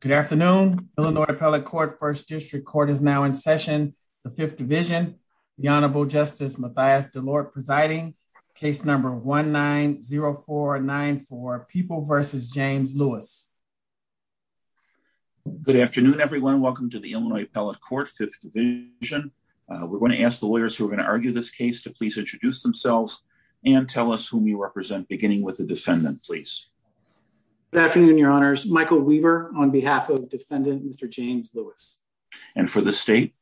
Good afternoon, Illinois Appellate Court, 1st District Court is now in session. The 5th Division, the Honorable Justice Mathias DeLorde presiding, case number 1-9-0-4-9-4, People v. James Lewis. Good afternoon, everyone. Welcome to the Illinois Appellate Court, 5th Division. We're going to ask the lawyers who are going to argue this case to please introduce themselves and tell us whom you represent, beginning with the defendant, please. Good afternoon, Your Honors. This is Michael Weaver on behalf of the defendant, Mr. James Lewis. And for the state?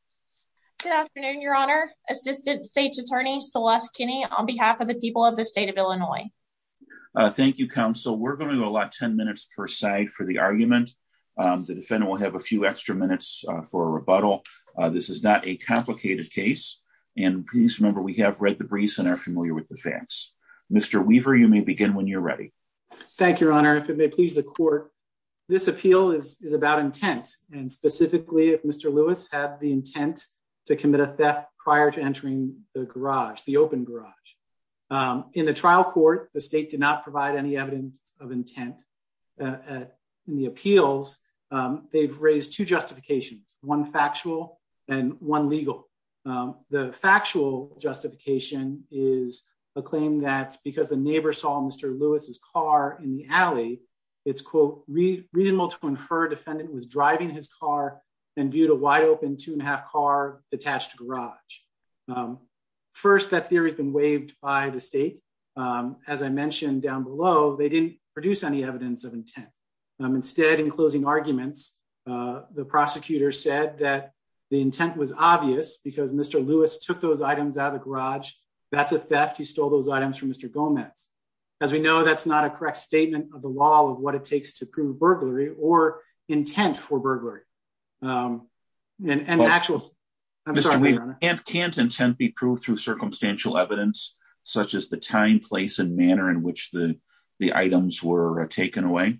Good afternoon, Your Honor, Assistant State's Attorney Celeste Kinney on behalf of the people of the state of Illinois. Thank you, Counsel. We're going to go 10 minutes per side for the argument. The defendant will have a few extra minutes for a rebuttal. This is not a complicated case, and please remember we have read the briefs and are familiar with the facts. Mr. Weaver, you may begin when you're ready. Thank you, Your Honor. Your Honor, if it may please the court, this appeal is about intent, and specifically if Mr. Lewis had the intent to commit a theft prior to entering the garage, the open garage. In the trial court, the state did not provide any evidence of intent. In the appeals, they've raised two justifications, one factual and one legal. The factual justification is a claim that because the neighbor saw Mr. Lewis's car in the alley, it's, quote, reasonable to infer the defendant was driving his car and viewed a wide-open two-and-a-half car attached to the garage. First, that theory has been waived by the state. As I mentioned down below, they didn't produce any evidence of intent. Instead, in closing arguments, the prosecutor said that the intent was obvious because Mr. Lewis took those items out of the garage. That's a theft. He stole those items from Mr. Gomez. As we know, that's not a correct statement of the law of what it takes to prove burglary or intent for burglary. And actual... I'm sorry, Your Honor. Can't intent be proved through circumstantial evidence, such as the time, place, and manner in which the items were taken away?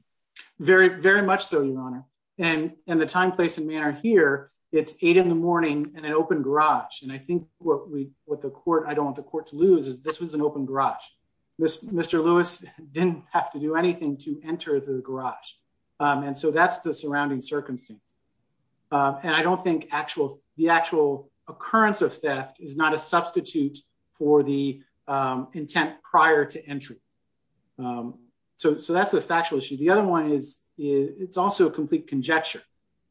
Very much so, Your Honor. In the time, place, and manner here, it's 8 in the morning in an open garage. And I think what I don't want the court to lose is this was an open garage. Mr. Lewis didn't have to do anything to enter the garage. And so that's the surrounding circumstance. And I don't think the actual occurrence of theft is not a substitute for the intent prior to entry. So that's a factual issue. The other one is, it's also a complete conjecture.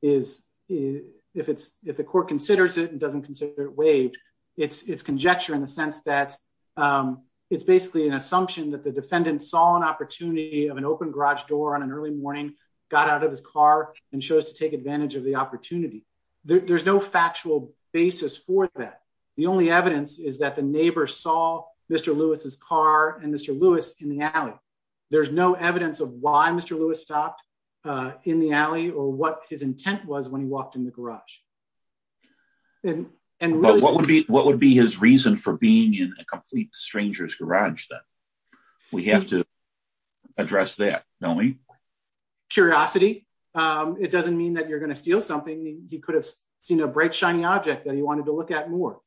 If the court considers it and doesn't consider it waived, it's conjecture in the sense that it's basically an assumption that the defendant saw an opportunity of an open garage door on an early morning, got out of his car, and chose to take advantage of the opportunity. There's no factual basis for that. The only evidence is that the neighbor saw Mr. Lewis's car and Mr. Lewis in the alley. There's no evidence of why Mr. Lewis stopped in the alley or what his intent was when he walked in the garage. What would be his reason for being in a complete stranger's garage then? We have to address that, don't we? Curiosity. It doesn't mean that you're going to steal something. He could have seen a bright, shiny object that he wanted to look at more.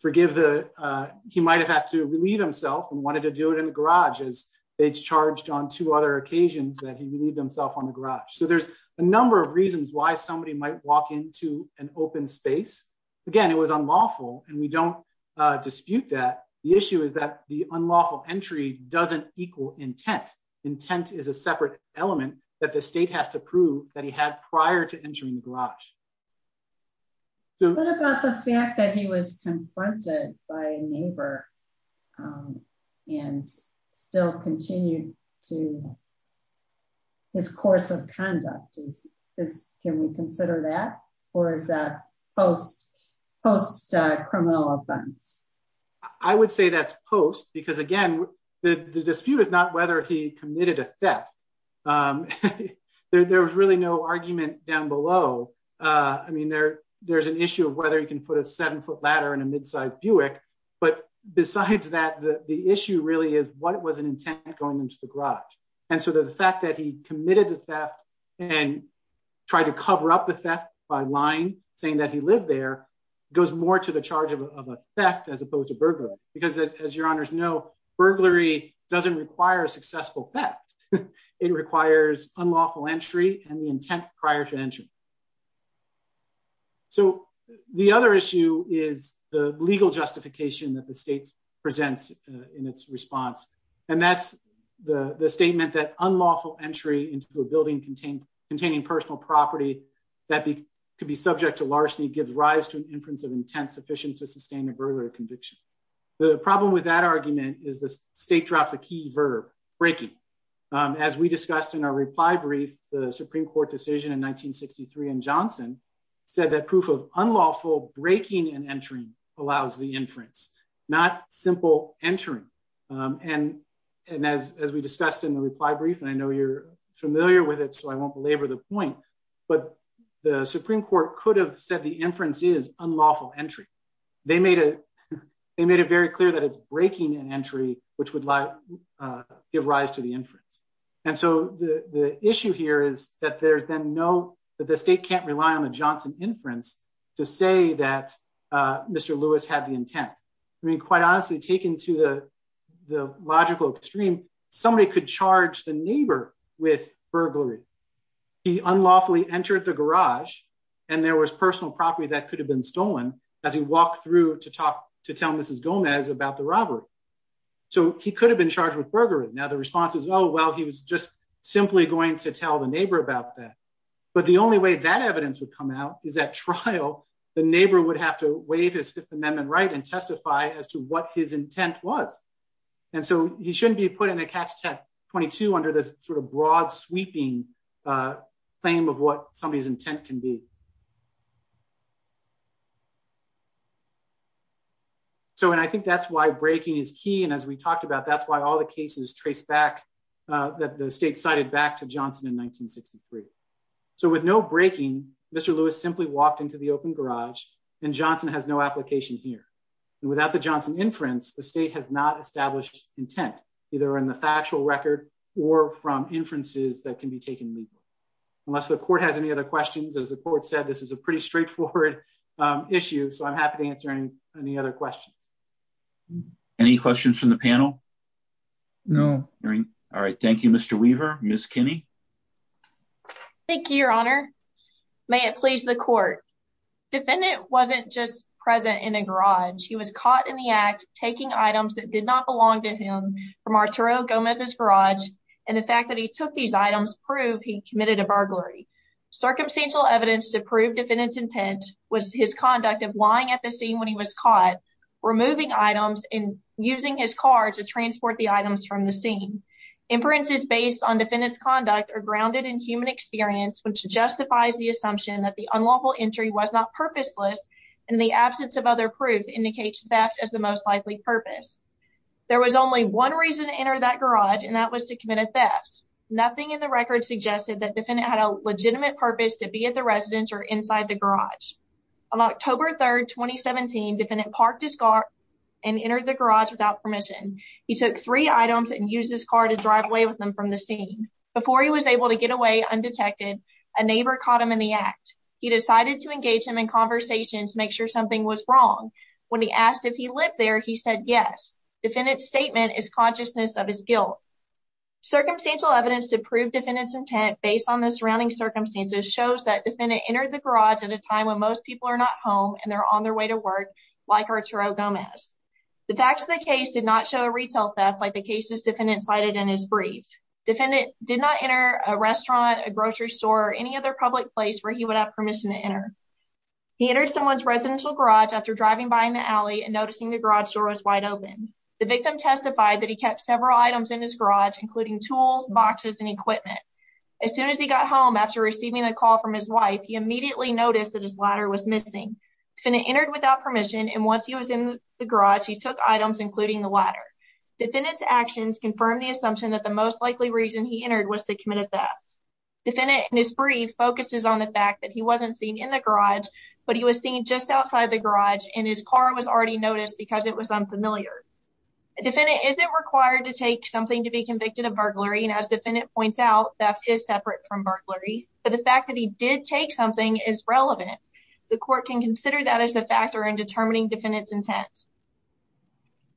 He might have had to relieve himself and wanted to do it in the garage as it's charged on two other occasions that he relieved himself on the garage. There's a number of reasons why somebody might walk into an open space. Again, it was unlawful and we don't dispute that. The issue is that the unlawful entry doesn't equal intent. Intent is a separate element that the state has to prove that he had prior to entering the garage. What about the fact that he was confronted by a neighbor and still continued to, his course of conduct, can we consider that or is that post-criminal offense? I would say that's post because, again, the dispute is not whether he committed a theft. There was really no argument down below. There's an issue of whether he can put a seven-foot ladder in a mid-sized Buick, but besides that, the issue really is what was an intent going into the garage. The fact that he committed the theft and tried to cover up the theft by lying, saying that he lived there, goes more to the charge of a theft as opposed to burglary. As your honors know, burglary doesn't require a successful theft. It requires unlawful entry and the intent prior to entry. The other issue is the legal justification that the state presents in its response. That's the statement that unlawful entry into a building containing personal property that could be subject to larceny gives rise to an inference of intent sufficient to sustain a burglary conviction. The problem with that argument is the state dropped the key verb, breaking. As we discussed in our reply brief, the Supreme Court decision in 1963 in Johnson said that proof of unlawful breaking and entering allows the inference, not simple entering. And as we discussed in the reply brief, and I know you're familiar with it, so I won't belabor the point, but the Supreme Court could have said the inference is unlawful entry. They made it very clear that it's breaking an entry, which would give rise to the inference. And so the issue here is that the state can't rely on the Johnson inference to say that Mr. Lewis had the intent. I mean, quite honestly, taken to the logical extreme, somebody could charge the neighbor with burglary. He unlawfully entered the garage and there was personal property that could have been stolen as he walked through to tell Mrs. Gomez about the robbery. So he could have been charged with burglary. Now, the response is, oh, well, he was just simply going to tell the neighbor about that. But the only way that evidence would come out is at trial. The neighbor would have to waive his Fifth Amendment right and testify as to what his intent was. And so he shouldn't be put in a catch 22 under this sort of broad sweeping claim of what somebody's intent can be. So and I think that's why breaking is key. And as we talked about, that's why all the cases trace back that the state cited back to Johnson in 1963. So with no breaking, Mr. Lewis simply walked into the open garage and Johnson has no application here. And without the Johnson inference, the state has not established intent, either in the factual record or from inferences that can be taken unless the court has any other questions. As the court said, this is a pretty straightforward issue. So I'm happy to answer any other questions. Any questions from the panel? No. All right. Thank you, Mr. Weaver. Miss Kinney. Thank you, Your Honor. May it please the court. Defendant wasn't just present in a garage. He was caught in the act, taking items that did not belong to him from Arturo Gomez's garage. And the fact that he took these items proved he committed a burglary. Circumstantial evidence to prove defendant's intent was his conduct of lying at the scene when he was caught, removing items and using his car to transport the items from the scene. Inferences based on defendant's conduct are grounded in human experience, which justifies the assumption that the unlawful entry was not purposeless and the absence of other proof indicates theft as the most likely purpose. There was only one reason to enter that garage, and that was to commit a theft. Nothing in the record suggested that defendant had a legitimate purpose to be at the residence or inside the garage. On October 3rd, 2017, defendant parked his car and entered the garage without permission. He took three items and used his car to drive away with them from the scene. Before he was able to get away undetected, a neighbor caught him in the act. He decided to engage him in conversations to make sure something was wrong. When he asked if he lived there, he said yes. Defendant's statement is consciousness of his guilt. Circumstantial evidence to prove defendant's intent based on the surrounding circumstances shows that defendant entered the garage at a time when most people are not home and they're on their way to work, like Arturo Gomez. The facts of the case did not show a retail theft like the cases defendant cited in his brief. Defendant did not enter a restaurant, a grocery store, or any other public place where he would have permission to enter. He entered someone's residential garage after driving by in the alley and noticing the garage door was wide open. The victim testified that he kept several items in his garage, including tools, boxes, and equipment. As soon as he got home after receiving a call from his wife, he immediately noticed that his ladder was missing. Defendant entered without permission, and once he was in the garage, he took items, including the ladder. Defendant's actions confirm the assumption that the most likely reason he entered was to commit a theft. Defendant in his brief focuses on the fact that he wasn't seen in the garage, but he was seen just outside the garage, and his car was already noticed because it was unfamiliar. Defendant isn't required to take something to be convicted of burglary, and as defendant points out, theft is separate from burglary, but the fact that he did take something is relevant. The court can consider that as a factor in determining defendant's intent.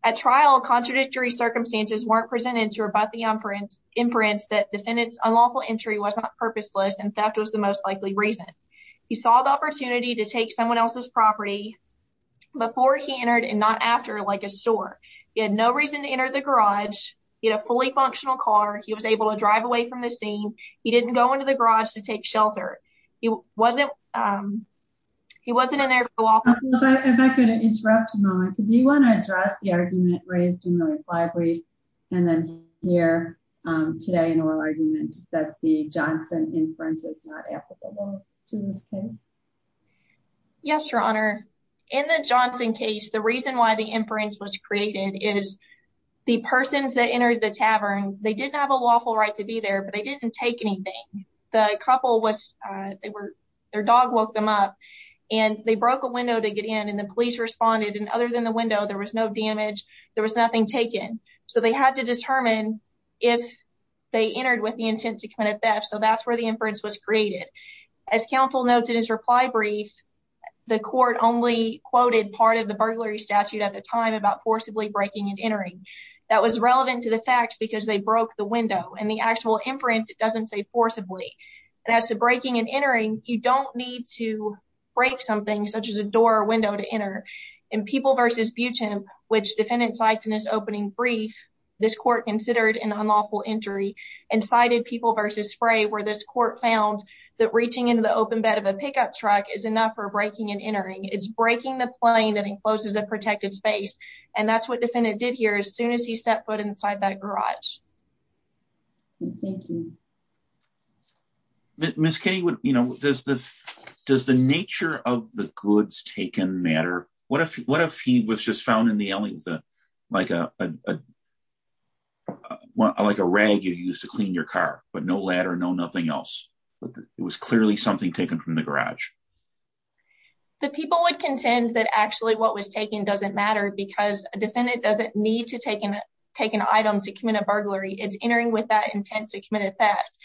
At trial, contradictory circumstances weren't presented to rebut the inference that defendant's unlawful entry was not purposeless and theft was the most likely reason. He saw the opportunity to take someone else's property before he entered and not after, like a store. He had no reason to enter the garage. He had a fully functional car. He was able to drive away from the scene. He didn't go into the garage to take shelter. He wasn't, um, he wasn't in there. If I could interrupt a moment, do you want to address the argument raised in the reply brief and then hear today an oral argument that the Johnson inference is not applicable to this case? Yes, Your Honor. In the Johnson case, the reason why the inference was created is the persons that entered the tavern, they didn't have a lawful right to be there, but they didn't take anything. The couple was, uh, they were, their dog woke them up and they broke a window to get in and the police responded. And other than the window, there was no damage. There was nothing taken. So they had to determine if they entered with the intent to commit theft. So that's where the inference was created. As counsel notes in his reply brief, the court only quoted part of the burglary statute at the time about forcibly breaking and entering. That was relevant to the facts because they broke the window and the actual inference, it doesn't say forcibly. And as to breaking and entering, you don't need to break something such as a door or window to enter. In People v. Butem, which defendant cites in his opening brief, this court considered an unlawful entry and cited People v. Spray, where this court found that reaching into the open bed of a pickup truck is enough for breaking and entering. It's breaking the plane that encloses a protected space. And that's what defendant did here as soon as he set foot inside that garage. Thank you. Ms. King, you know, does the does the nature of the goods taken matter? What if what if he was just found in the alley, like a like a rag you use to clean your car, but no ladder, no nothing else. But it was clearly something taken from the garage. The people would contend that actually what was taken doesn't matter because a defendant doesn't need to take an item to commit a burglary. It's entering with that intent to commit a theft.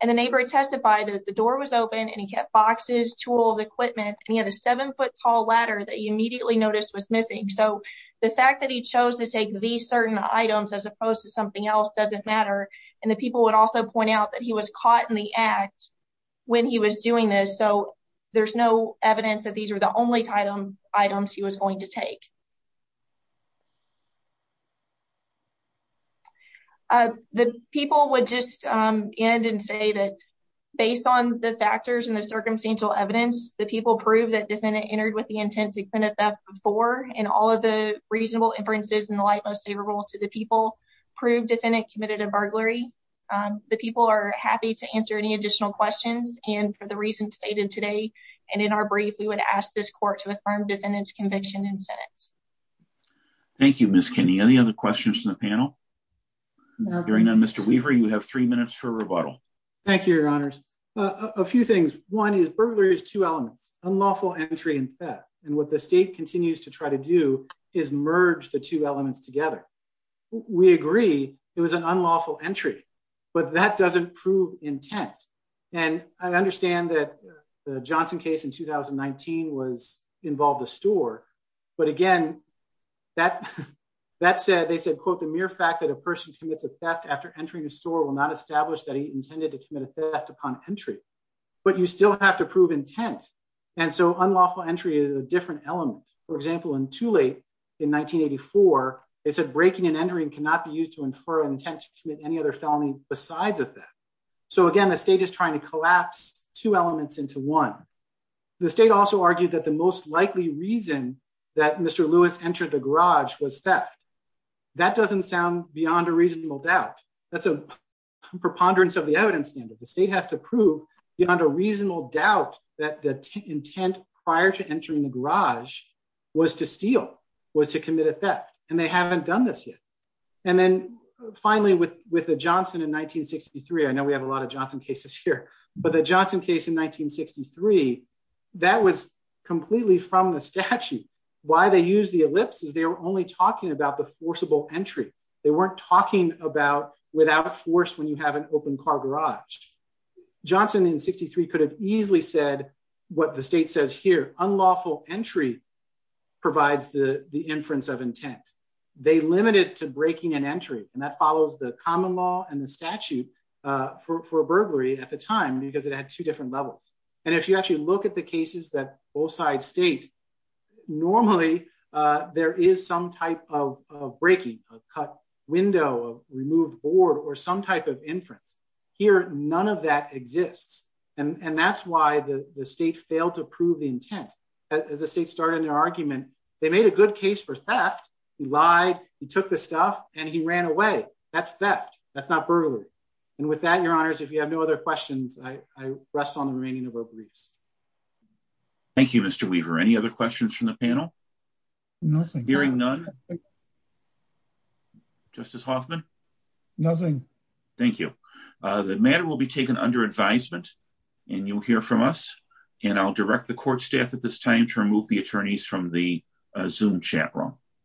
And the neighbor testified that the door was open and he kept boxes, tools, equipment, and he had a seven foot tall ladder that he immediately noticed was missing. So the fact that he chose to take these certain items as opposed to something else doesn't matter. And the people would also point out that he was caught in the act when he was doing this. So there's no evidence that these are the only items he was going to take. The people would just end and say that based on the factors and the circumstantial evidence, the people prove that defendant entered with the intent to commit a theft before and all of the reasonable inferences in the light most favorable to the people prove defendant committed a burglary. The people are happy to answer any additional questions. And for the reason stated today, and in our brief, we would ask this court to affirm defendant's conviction and sentence. Thank you, Miss Kenny. Any other questions from the panel? Hearing none, Mr. Weaver, you have three minutes for rebuttal. Thank you, your honors. A few things. One is burglary is two elements, unlawful entry and theft. And what the state continues to try to do is merge the two elements together. We agree it was an unlawful entry, but that doesn't prove intent. And I understand that the Johnson case in 2019 was involved a store. But again, that said, they said, quote, the mere fact that a person commits a theft after entering a store will not establish that he intended to commit a theft upon entry. But you still have to prove intent. And so unlawful entry is a different element. For example, in too late in 1984, they said breaking and entering cannot be used to infer intent to commit any other felony besides a theft. So again, the state is trying to collapse two elements into one. The state also argued that the most likely reason that Mr. Lewis entered the garage was theft. That doesn't sound beyond a reasonable doubt. That's a preponderance of the evidence standard. The state has to prove beyond a reasonable doubt that the intent prior to entering the garage was to steal, was to commit a theft. And they haven't done this yet. And then finally, with the Johnson in 1963, I know we have a lot of Johnson cases here, but the Johnson case in 1963, that was completely from the statute. Why they use the ellipse is they were only talking about the forcible entry. They weren't talking about without force when you have an open car garage. Johnson in 63 could have easily said what the state says here. Unlawful entry provides the inference of intent. They limit it to breaking and entry. That follows the common law and the statute for a burglary at the time because it had two different levels. And if you actually look at the cases that both sides state, normally there is some type of breaking, a cut window, a removed board, or some type of inference. Here, none of that exists. And that's why the state failed to prove the intent. As the state started their argument, they made a good case for theft. He lied, he took the stuff and he ran away. That's theft. That's not burglary. And with that, your honors, if you have no other questions, I rest on the remaining of our briefs. Thank you, Mr. Weaver. Any other questions from the panel? Nothing. Hearing none. Justice Hoffman? Nothing. Thank you. The matter will be taken under advisement and you'll hear from us. And I'll direct the court staff at this time to remove the attorneys from the Zoom chaperone.